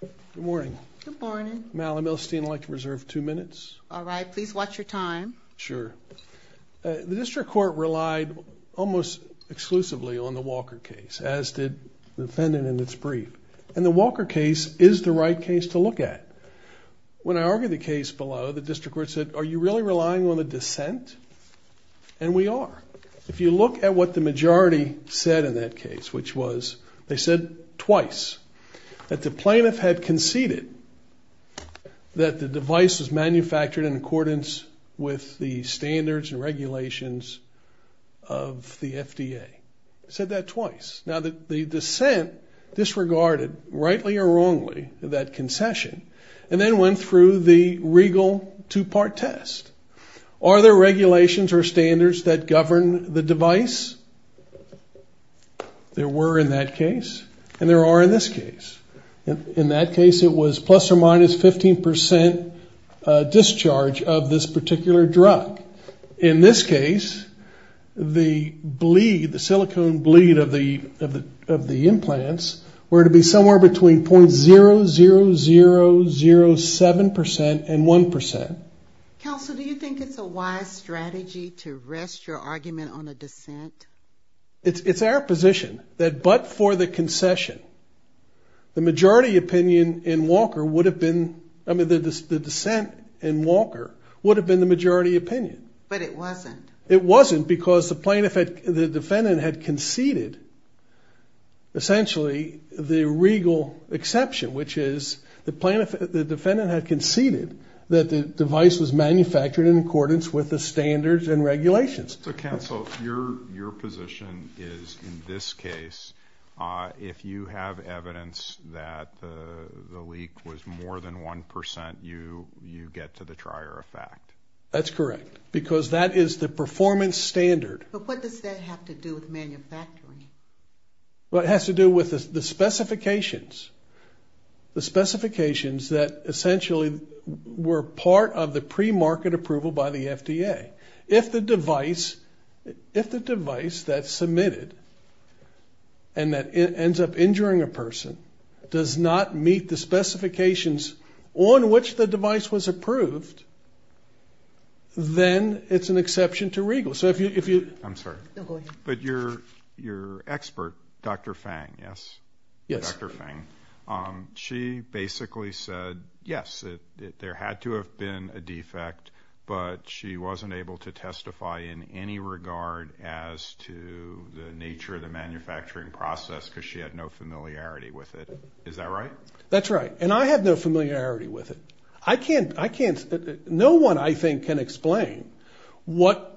Good morning. Good morning. Mal, I'd like to reserve two minutes. All right. Please watch your time. Sure. The District Court relied almost exclusively on the Walker case, as did the defendant in its brief. And the Walker case is the right case to look at. When I argued the case below, the District Court said, Are you really relying on the dissent? And we are. If you look at what the majority said in that case, which was, They said twice that the plaintiff had conceded that the device was manufactured in accordance with the standards and regulations of the FDA. They said that twice. Now, the dissent disregarded, rightly or wrongly, that concession, and then went through the regal two-part test. Are there regulations or standards that govern the device? There were in that case, and there are in this case. In that case, it was plus or minus 15% discharge of this particular drug. In this case, the silicone bleed of the implants were to be somewhere between .0007% and 1%. Counsel, do you think it's a wise strategy to rest your argument on a dissent? It's our position that but for the concession, the majority opinion in Walker would have been, I mean, the dissent in Walker would have been the majority opinion. But it wasn't. It wasn't because the defendant had conceded, essentially, the regal exception, which is the defendant had conceded that the device was manufactured in accordance with the standards and regulations. Counsel, your position is, in this case, if you have evidence that the leak was more than 1%, you get to the trier effect. That's correct, because that is the performance standard. But what does that have to do with manufacturing? Well, it has to do with the specifications, the specifications that essentially were part of the premarket approval by the FDA. If the device that's submitted and that ends up injuring a person does not meet the specifications on which the device was approved, then it's an exception to regal. I'm sorry. No, go ahead. But your expert, Dr. Fang, yes? Yes. Dr. Fang, she basically said, yes, that there had to have been a defect, but she wasn't able to testify in any regard as to the nature of the manufacturing process because she had no familiarity with it. Is that right? That's right. And I have no familiarity with it. No one, I think, can explain what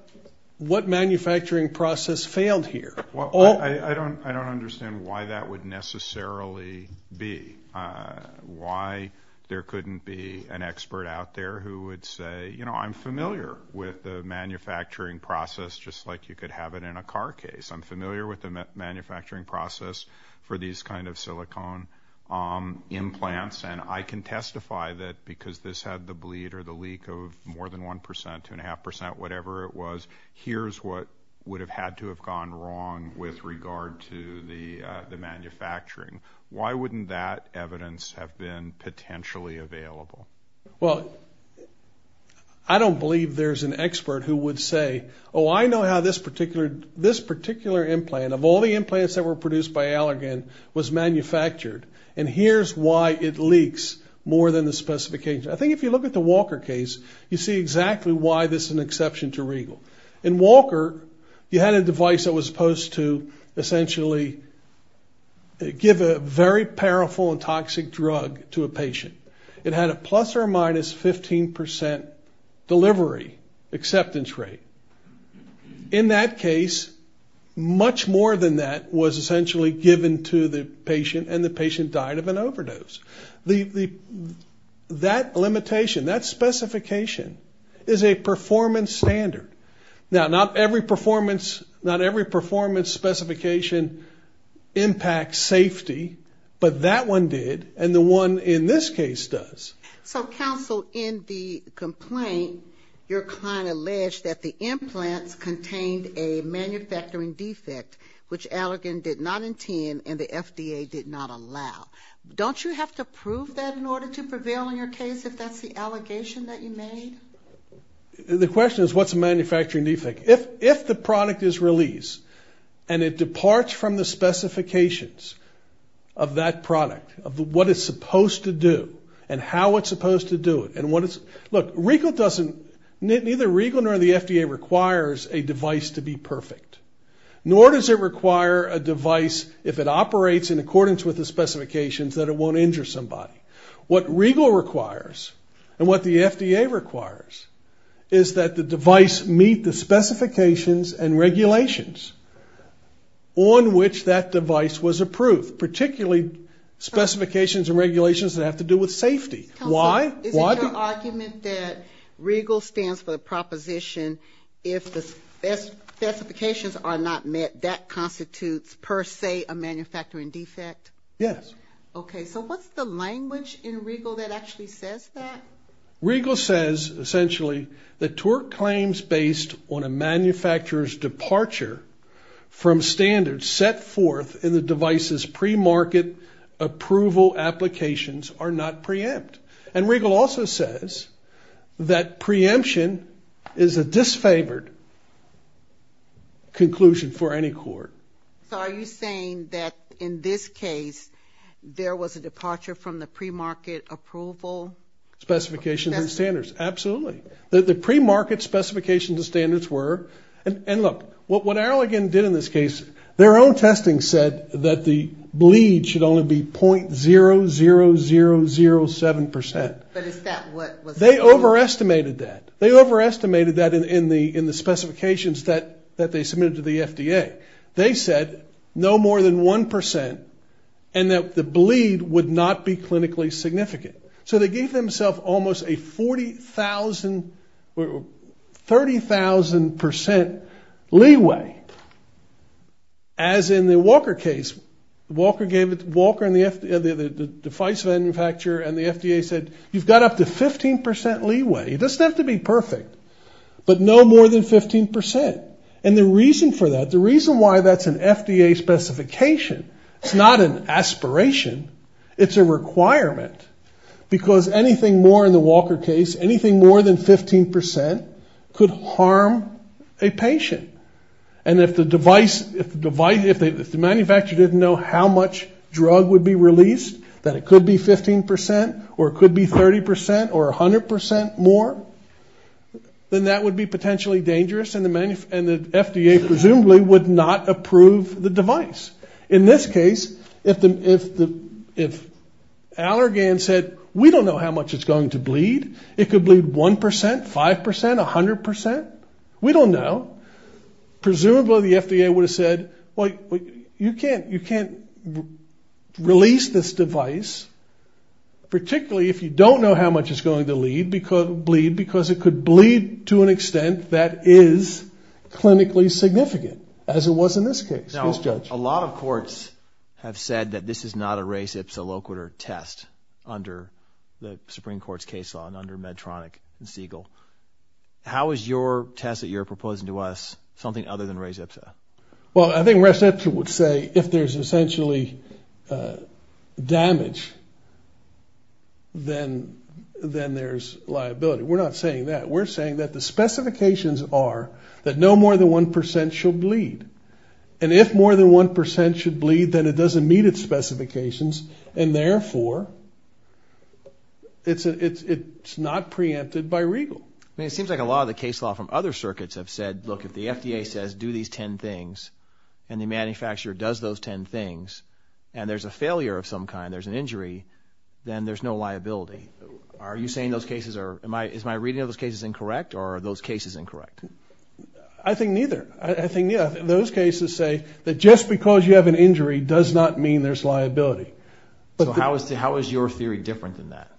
manufacturing process failed here. I don't understand why that would necessarily be, why there couldn't be an expert out there who would say, you know, I'm familiar with the manufacturing process just like you could have it in a car case. I'm familiar with the manufacturing process for these kind of silicone implants, and I can testify that because this had the bleed or the leak of more than 1%, 2.5%, whatever it was, here's what would have had to have gone wrong with regard to the manufacturing. Why wouldn't that evidence have been potentially available? Well, I don't believe there's an expert who would say, oh, I know how this particular implant, of all the implants that were produced by Allergan, was manufactured, and here's why it leaks more than the specifications. I think if you look at the Walker case, you see exactly why this is an exception to Regal. In Walker, you had a device that was supposed to essentially give a very powerful and toxic drug to a patient. It had a plus or minus 15% delivery acceptance rate. In that case, much more than that was essentially given to the patient and the patient died of an overdose. That limitation, that specification is a performance standard. Now, not every performance specification impacts safety, but that one did and the one in this case does. So, counsel, in the complaint, your client alleged that the implants contained a manufacturing defect, which Allergan did not intend and the FDA did not allow. Don't you have to prove that in order to prevail in your case, if that's the allegation that you made? The question is, what's a manufacturing defect? If the product is released and it departs from the specifications of that product, of what it's supposed to do and how it's supposed to do it, and what it's, look, Regal doesn't, neither Regal nor the FDA requires a device to be perfect, nor does it require a device, if it operates in accordance with the specifications, that it won't injure somebody. What Regal requires and what the FDA requires is that the device meet the specifications and regulations on which that device was approved, particularly specifications and regulations that have to do with safety. Why? Is it your argument that Regal stands for the proposition, if the specifications are not met, that constitutes per se a manufacturing defect? Yes. Okay. So what's the language in Regal that actually says that? Regal says, essentially, that TORC claims based on a manufacturer's departure from standards set forth in the device's premarket approval applications are not preempt. And Regal also says that preemption is a disfavored conclusion for any court. So are you saying that, in this case, there was a departure from the premarket approval? Specifications and standards, absolutely. The premarket specifications and standards were, and look, what Arlogan did in this case, their own testing said that the bleed should only be .00007%. But is that what was? They overestimated that. They overestimated that in the specifications that they submitted to the FDA. They said no more than 1% and that the bleed would not be clinically significant. So they gave themselves almost a 40,000, 30,000% leeway. As in the Walker case, Walker gave it, Walker and the FDA, the device manufacturer and the FDA said, you've got up to 15% leeway. It doesn't have to be perfect, but no more than 15%. And the reason for that, the reason why that's an FDA specification, it's not an aspiration, it's a requirement, because anything more in the Walker case, anything more than 15%, could harm a patient. And if the device, if the device, if the manufacturer didn't know how much drug would be released, that it could be 15% or it could be 30% or 100% more, then that would be potentially dangerous and the FDA presumably would not approve the device. In this case, if Allergan said, we don't know how much it's going to bleed, it could bleed 1%, 5%, 100%. We don't know. Presumably the FDA would have said, well, you can't release this device, particularly if you don't know how much it's going to bleed, because it could bleed to an extent that is clinically significant, as it was in this case. Please judge. Now, a lot of courts have said that this is not a res ipsa loquitur test under the Supreme Court's case law and under Medtronic and Siegel. How is your test that you're proposing to us something other than res ipsa? Well, I think res ipsa would say if there's essentially damage, then there's liability. We're not saying that. We're saying that the specifications are that no more than 1% should bleed. And if more than 1% should bleed, then it doesn't meet its specifications and, therefore, it's not preempted by regal. I mean, it seems like a lot of the case law from other circuits have said, look, if the FDA says do these ten things and the manufacturer does those ten things and there's a failure of some kind, there's an injury, then there's no liability. Are you saying those cases are – is my reading of those cases incorrect or are those cases incorrect? I think neither. I think those cases say that just because you have an injury does not mean there's liability. So how is your theory different than that?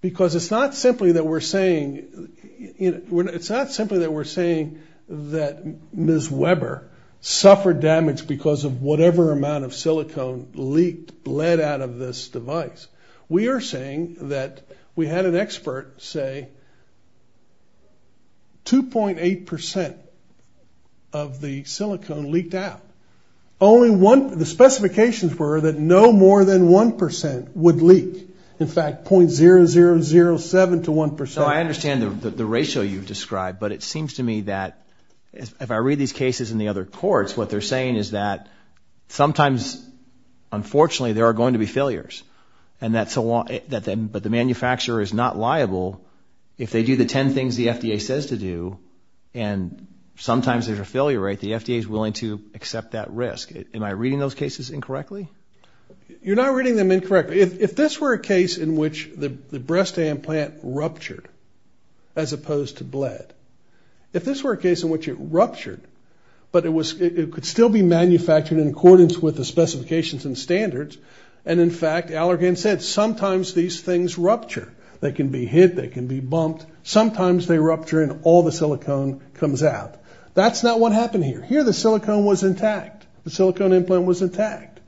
Because it's not simply that we're saying – it's not simply that we're saying that Ms. Weber suffered damage because of whatever amount of silicone leaked, bled out of this device. We are saying that we had an expert say 2.8% of the silicone leaked out. Only one – the specifications were that no more than 1% would leak. In fact, .0007 to 1%. So I understand the ratio you've described, but it seems to me that if I read these cases in the other courts, what they're saying is that sometimes, unfortunately, there are going to be failures, but the manufacturer is not liable. If they do the 10 things the FDA says to do and sometimes there's a failure rate, the FDA is willing to accept that risk. Am I reading those cases incorrectly? You're not reading them incorrectly. If this were a case in which the breast implant ruptured as opposed to bled, if this were a case in which it ruptured, but it could still be manufactured in accordance with the specifications and standards, and in fact, Allergan said sometimes these things rupture. They can be hit, they can be bumped. Sometimes they rupture and all the silicone comes out. That's not what happened here. Here the silicone was intact. The silicone implant was intact.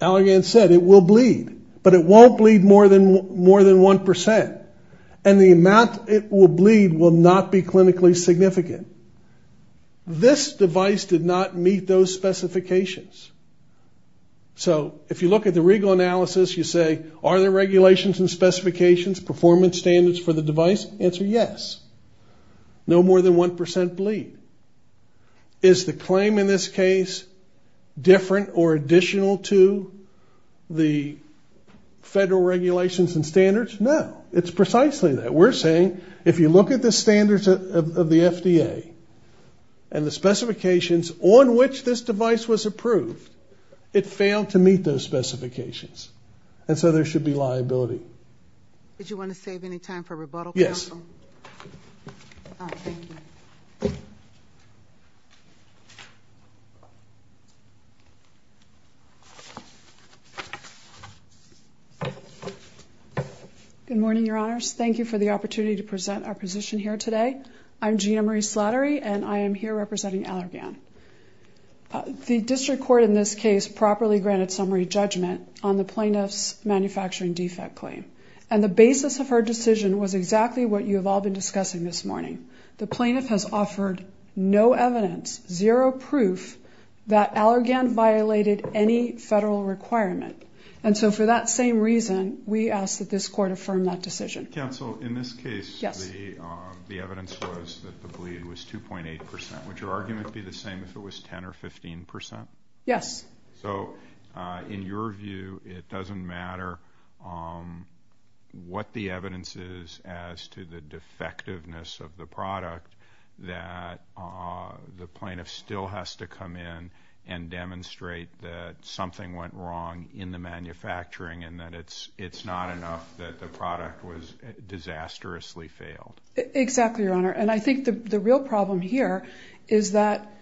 Allergan said it will bleed, but it won't bleed more than 1%, and the amount it will bleed will not be clinically significant. This device did not meet those specifications. So if you look at the regal analysis, you say, are there regulations and specifications, performance standards for the device? The answer is yes. No more than 1% bleed. Is the claim in this case different or additional to the federal regulations and standards? No. It's precisely that. We're saying if you look at the standards of the FDA and the specifications on which this device was approved, it failed to meet those specifications. And so there should be liability. Did you want to save any time for rebuttal, counsel? Yes. Good morning, Your Honors. Thank you for the opportunity to present our position here today. I'm Gina Marie Slattery, and I am here representing Allergan. The district court in this case properly granted summary judgment on the plaintiff's manufacturing defect claim, and the basis of her decision was exactly what you have all been discussing this morning. The plaintiff has offered no evidence, zero proof, that Allergan violated any federal requirement. And so for that same reason, we ask that this court affirm that decision. Counsel, in this case, the evidence was that the bleed was 2.8%, would your argument be the same if it was 10% or 15%? Yes. So in your view, it doesn't matter what the evidence is as to the defectiveness of the product, that the plaintiff still has to come in and demonstrate that something went wrong in the manufacturing and that it's not enough that the product was disastrously failed? Exactly, Your Honor. And I think the real problem here is that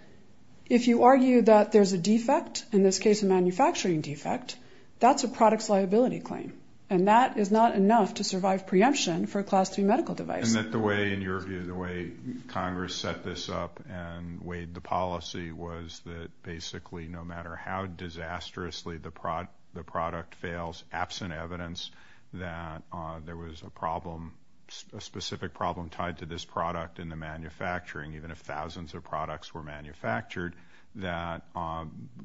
if you argue that there's a defect, in this case a manufacturing defect, that's a product's liability claim, and that is not enough to survive preemption for a Class 3 medical device. And that the way, in your view, the way Congress set this up and weighed the policy was that basically no matter how disastrously the product fails, absent evidence that there was a problem, a specific problem tied to this product in the manufacturing, even if thousands of products were manufactured, that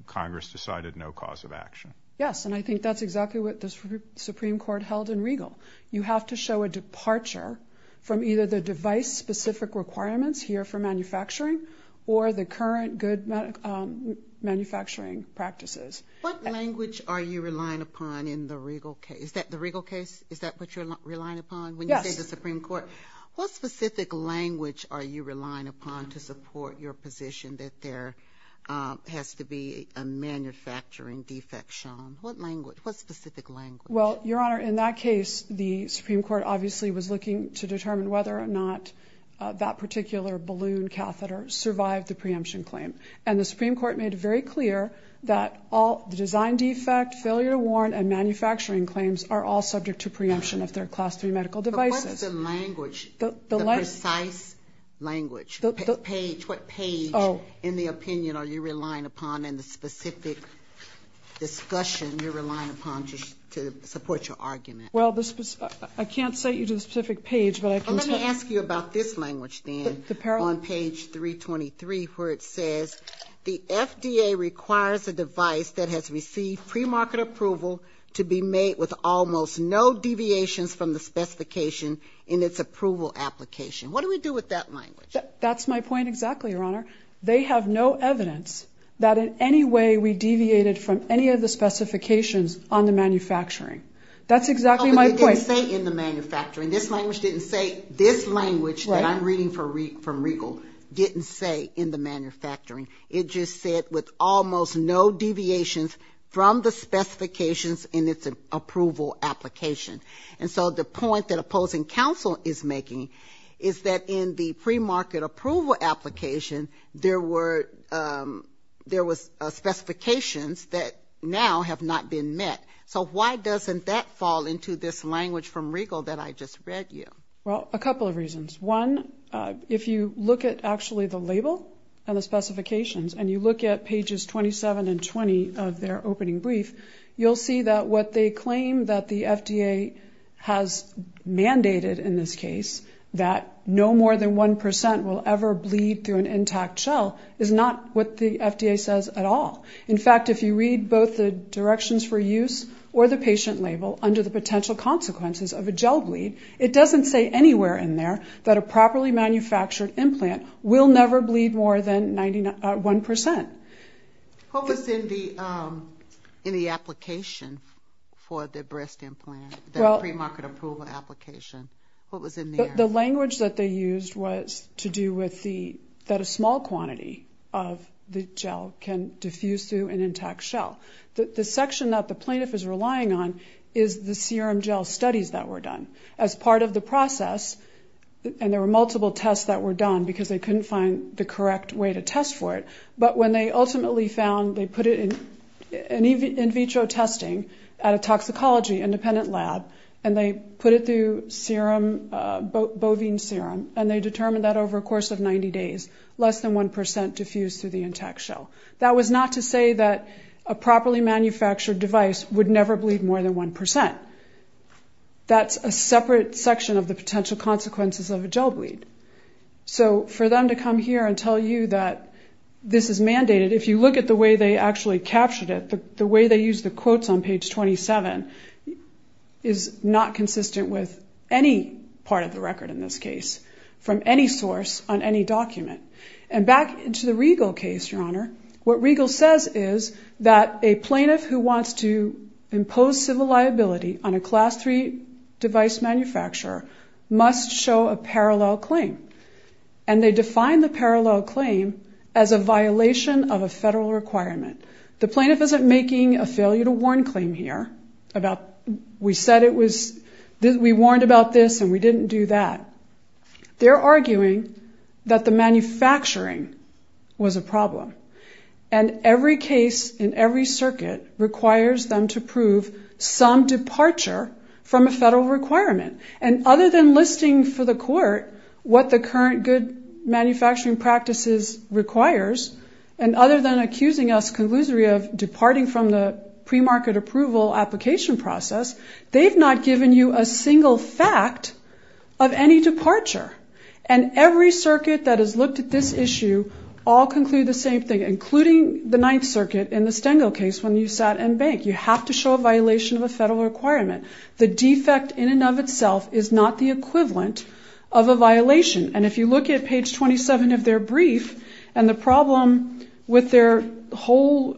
Congress decided no cause of action. Yes, and I think that's exactly what the Supreme Court held in Regal. You have to show a departure from either the device-specific requirements here for manufacturing or the current good manufacturing practices. What language are you relying upon in the Regal case? Is that the Regal case? Is that what you're relying upon when you say the Supreme Court? Yes. What specific language are you relying upon to support your position that there has to be a manufacturing defect shown? What language? What specific language? Well, Your Honor, in that case the Supreme Court obviously was looking to determine whether or not that particular balloon catheter survived the preemption claim. And the Supreme Court made it very clear that the design defect, failure to warn, and manufacturing claims are all subject to preemption if they're Class III medical devices. But what's the language, the precise language, what page in the opinion are you relying upon in the specific discussion you're relying upon to support your argument? Well, I can't cite you to the specific page, but I can tell you. Let me ask you about this language then on page 323 where it says, the FDA requires a device that has received premarket approval to be made with almost no deviations from the specification in its approval application. What do we do with that language? That's my point exactly, Your Honor. They have no evidence that in any way we deviated from any of the specifications on the manufacturing. That's exactly my point. It didn't say in the manufacturing. This language didn't say. This language that I'm reading from Riegel didn't say in the manufacturing. It just said with almost no deviations from the specifications in its approval application. And so the point that opposing counsel is making is that in the premarket approval application, there were specifications that now have not been met. So why doesn't that fall into this language from Riegel that I just read you? Well, a couple of reasons. One, if you look at actually the label and the specifications and you look at pages 27 and 20 of their opening brief, you'll see that what they claim that the FDA has mandated in this case, that no more than 1% will ever bleed through an intact shell, is not what the FDA says at all. In fact, if you read both the directions for use or the patient label under the potential consequences of a gel bleed, it doesn't say anywhere in there that a properly manufactured implant will never bleed more than 1%. What was in the application for the breast implant, the premarket approval application? What was in there? The language that they used was to do with that a small quantity of the gel can diffuse through an intact shell. The section that the plaintiff is relying on is the serum gel studies that were done. As part of the process, and there were multiple tests that were done because they couldn't find the correct way to test for it, but when they ultimately found they put it in in vitro testing at a toxicology independent lab and they put it through serum, bovine serum, and they determined that over a course of 90 days, less than 1% diffused through the intact shell. That was not to say that a properly manufactured device would never bleed more than 1%. That's a separate section of the potential consequences of a gel bleed. So for them to come here and tell you that this is mandated, if you look at the way they actually captured it, the way they used the quotes on page 27 is not consistent with any part of the record in this case, from any source on any document. And back to the Riegel case, Your Honor, what Riegel says is that a plaintiff who wants to impose civil liability on a Class III device manufacturer must show a parallel claim. And they define the parallel claim as a violation of a federal requirement. The plaintiff isn't making a failure to warn claim here about, we said it was, we warned about this and we didn't do that. They're arguing that the manufacturing was a problem. And every case in every circuit requires them to prove some departure from a federal requirement. And other than listing for the court what the current good manufacturing practices requires, and other than accusing us conclusively of departing from the premarket approval application process, they've not given you a single fact of any departure. And every circuit that has looked at this issue all conclude the same thing, including the Ninth Circuit in the Stengel case when you sat and banked. You have to show a violation of a federal requirement. The defect in and of itself is not the equivalent of a violation. And if you look at page 27 of their brief and the problem with their whole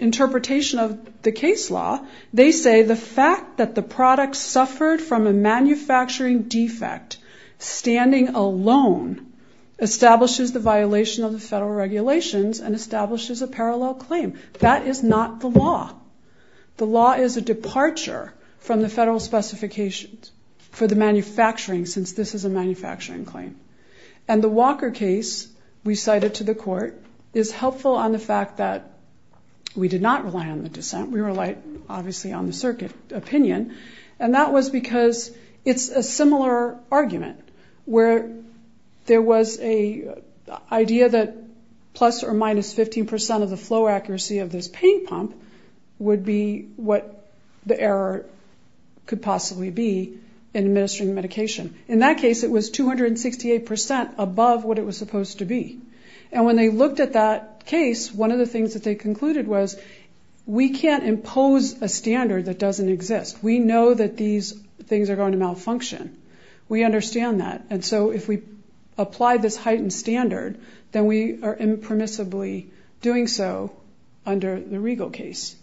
interpretation of the case law, they say the fact that the product suffered from a manufacturing defect standing alone establishes the violation of the federal regulations and establishes a parallel claim. That is not the law. The law is a departure from the federal specifications for the manufacturing since this is a manufacturing claim. And the Walker case we cited to the court is helpful on the fact that we did not rely on the dissent. We relied, obviously, on the circuit opinion, and that was because it's a similar argument where there was an idea that plus or minus 15% of the flow accuracy of this paint pump would be what the error could possibly be in administering the medication. In that case, it was 268% above what it was supposed to be. And when they looked at that case, one of the things that they concluded was, we can't impose a standard that doesn't exist. We know that these things are going to malfunction. We understand that. And so if we apply this heightened standard, then we are impermissibly doing so under the Regal case.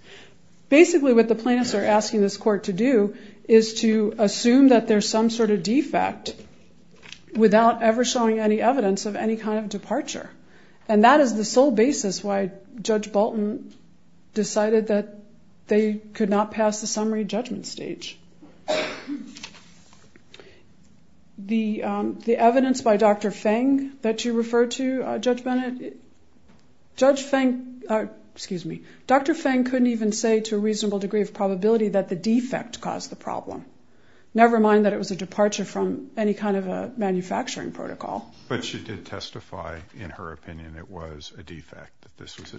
Basically, what the plaintiffs are asking this court to do is to assume that there's some sort of defect without ever showing any evidence of any kind of departure. And that is the sole basis why Judge Bolton decided that they could not pass the summary judgment stage. The evidence by Dr. Feng that you referred to, Judge Bennett, Dr. Feng couldn't even say to a reasonable degree of probability that the defect caused the problem, never mind that it was a departure from any kind of a manufacturing protocol. But she did testify in her opinion it was a defect.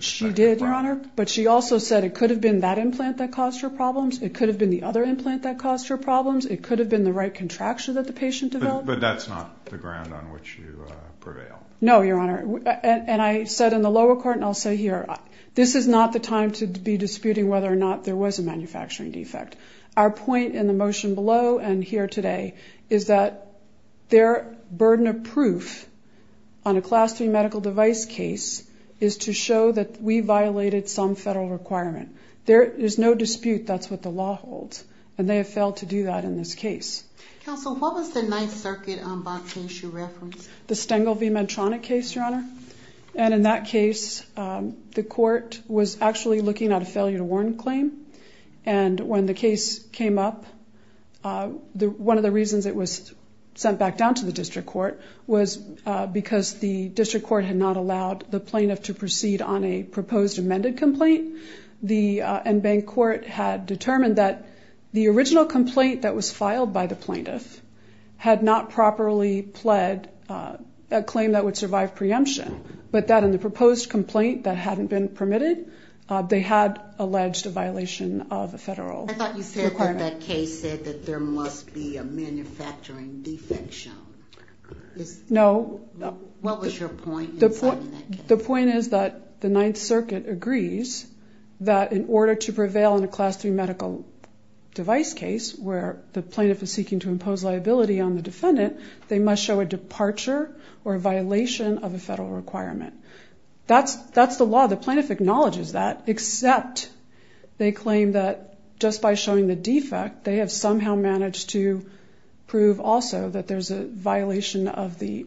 She did, Your Honor. But she also said it could have been that implant that caused her problems. It could have been the other implant that caused her problems. It could have been the right contracture that the patient developed. But that's not the ground on which you prevail. No, Your Honor. And I said in the lower court, and I'll say here, this is not the time to be disputing whether or not there was a manufacturing defect. Our point in the motion below and here today is that their burden of proof on a Class 3 medical device case is to show that we violated some federal requirement. There is no dispute that's what the law holds. And they have failed to do that in this case. Counsel, what was the Ninth Circuit on Box issue reference? The Stengel v. Medtronic case, Your Honor. And in that case, the court was actually looking at a failure to warn claim. And when the case came up, one of the reasons it was sent back down to the district court was because the district court had not allowed the plaintiff to proceed on a proposed amended complaint. And bank court had determined that the original complaint that was filed by the plaintiff had not properly pled a claim that would survive preemption, but that in the proposed complaint that hadn't been permitted, they had alleged a violation of a federal requirement. I thought you said that that case said that there must be a manufacturing defect shown. No. What was your point in citing that case? The point is that the Ninth Circuit agrees that in order to prevail in a Class 3 medical device case where the plaintiff is seeking to impose liability on the defendant, they must show a departure or a violation of a federal requirement. That's the law. The plaintiff acknowledges that, except they claim that just by showing the defect, they have somehow managed to prove also that there's a violation of the,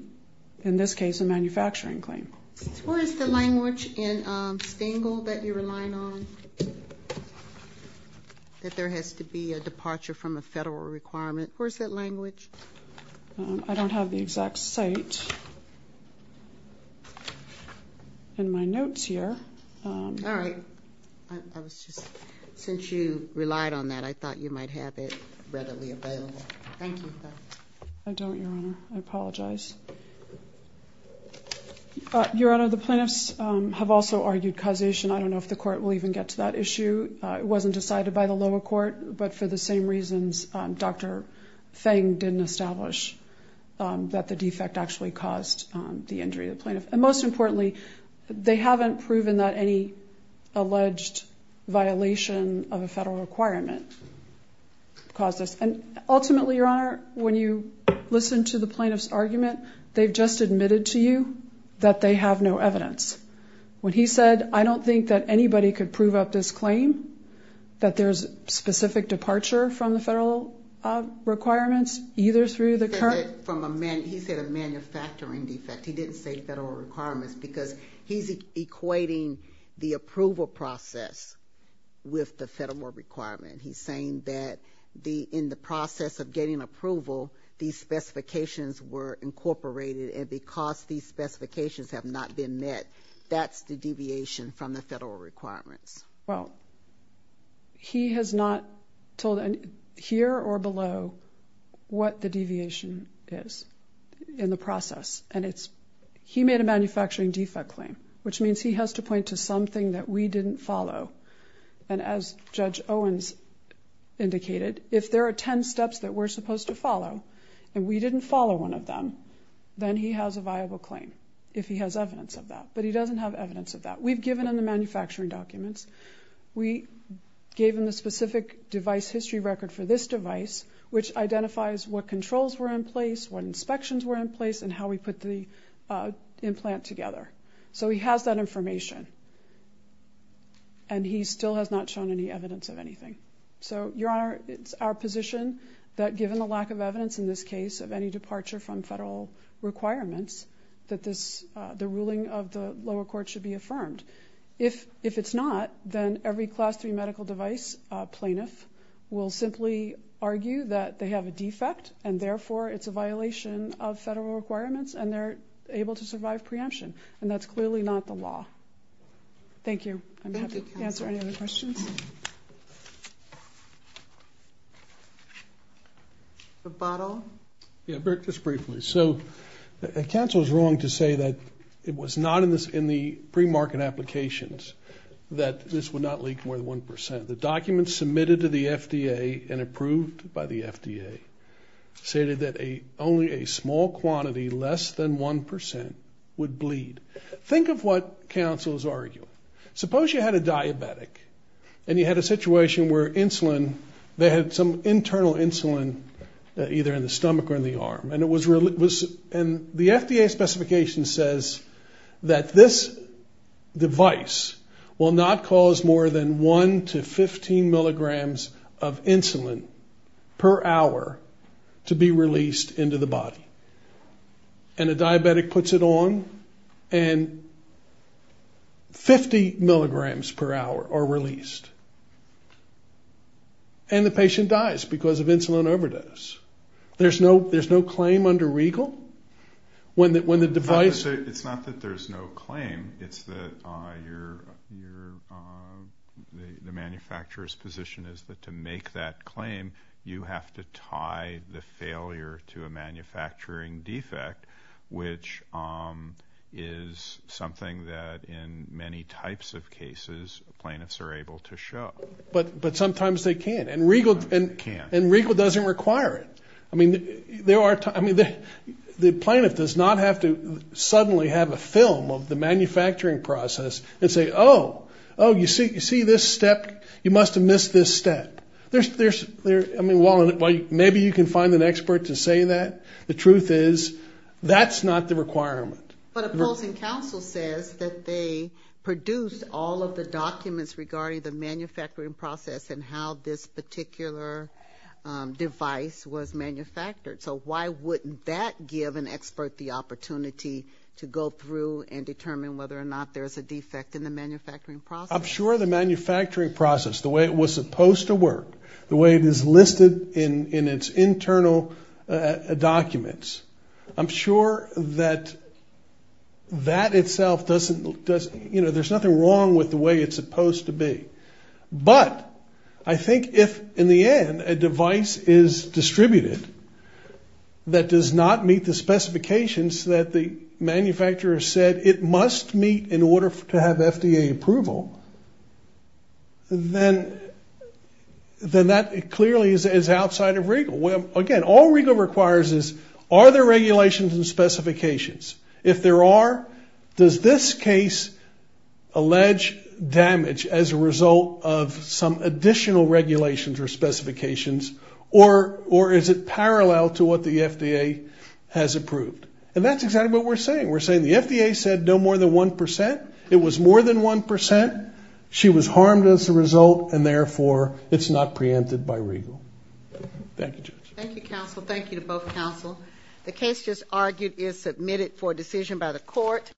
in this case, a manufacturing claim. Where is the language in Stengel that you're relying on, that there has to be a departure from a federal requirement? Where is that language? I don't have the exact site in my notes here. All right. Since you relied on that, I thought you might have it readily available. Thank you. I don't, Your Honor. I apologize. Your Honor, the plaintiffs have also argued causation. I don't know if the court will even get to that issue. It wasn't decided by the lower court, but for the same reasons Dr. Feng didn't establish that the defect actually caused the injury of the plaintiff. And most importantly, they haven't proven that any alleged violation of a federal requirement caused this. And ultimately, Your Honor, when you listen to the plaintiff's argument, they've just admitted to you that they have no evidence. When he said, I don't think that anybody could prove up this claim, that there's specific departure from the federal requirements, either through the current. He said a manufacturing defect. He didn't say federal requirements because he's equating the approval process with the federal requirement. He's saying that in the process of getting approval, these specifications were incorporated, and because these specifications have not been met, that's the deviation from the federal requirements. Well, he has not told here or below what the deviation is in the process. And he made a manufacturing defect claim, which means he has to point to something that we didn't follow. And as Judge Owens indicated, if there are 10 steps that we're supposed to follow, and we didn't follow one of them, then he has a viable claim, if he has evidence of that. But he doesn't have evidence of that. We've given him the manufacturing documents. We gave him the specific device history record for this device, which identifies what controls were in place, what inspections were in place, and how we put the implant together. So he has that information, and he still has not shown any evidence of anything. So, Your Honor, it's our position that given the lack of evidence in this case of any departure from federal requirements, that the ruling of the lower court should be affirmed. If it's not, then every Class III medical device plaintiff will simply argue that they have a defect, and therefore it's a violation of federal requirements, and they're able to survive preemption. And that's clearly not the law. Thank you. I'm happy to answer any other questions. The bottle. Yeah, Burke, just briefly. So counsel is wrong to say that it was not in the premarket applications that this would not leak more than 1%. The documents submitted to the FDA and approved by the FDA stated that only a small quantity less than 1% would bleed. Think of what counsel is arguing. Suppose you had a diabetic and you had a situation where insulin, they had some internal insulin either in the stomach or in the arm, and the FDA specification says that this device will not cause more than 1 to 15 milligrams of insulin per hour to be released into the body. And a diabetic puts it on, and 50 milligrams per hour are released. And the patient dies because of insulin overdose. There's no claim under Regal? It's not that there's no claim. It's that the manufacturer's position is that to make that claim, you have to tie the failure to a manufacturing defect, which is something that in many types of cases plaintiffs are able to show. But sometimes they can't. And Regal doesn't require it. I mean, the plaintiff does not have to suddenly have a film of the manufacturing process and say, oh, oh, you see this step? You must have missed this step. There's, I mean, maybe you can find an expert to say that. The truth is that's not the requirement. But opposing counsel says that they produced all of the documents regarding the manufacturing process and how this particular device was manufactured. So why wouldn't that give an expert the opportunity to go through and determine whether or not there's a defect in the manufacturing process? I'm sure the manufacturing process, the way it was supposed to work, the way it is listed in its internal documents, I'm sure that that itself doesn't, you know, there's nothing wrong with the way it's supposed to be. But I think if in the end a device is distributed that does not meet the specifications that the manufacturer said it must meet in order to have FDA approval, then that clearly is outside of Regal. Again, all Regal requires is are there regulations and specifications? If there are, does this case allege damage as a result of some additional regulations or specifications, or is it parallel to what the FDA has approved? And that's exactly what we're saying. We're saying the FDA said no more than 1%. It was more than 1%. She was harmed as a result, and therefore it's not preempted by Regal. Thank you, Judge. Thank you, counsel. Thank you to both counsel. The case just argued is submitted for decision by the court.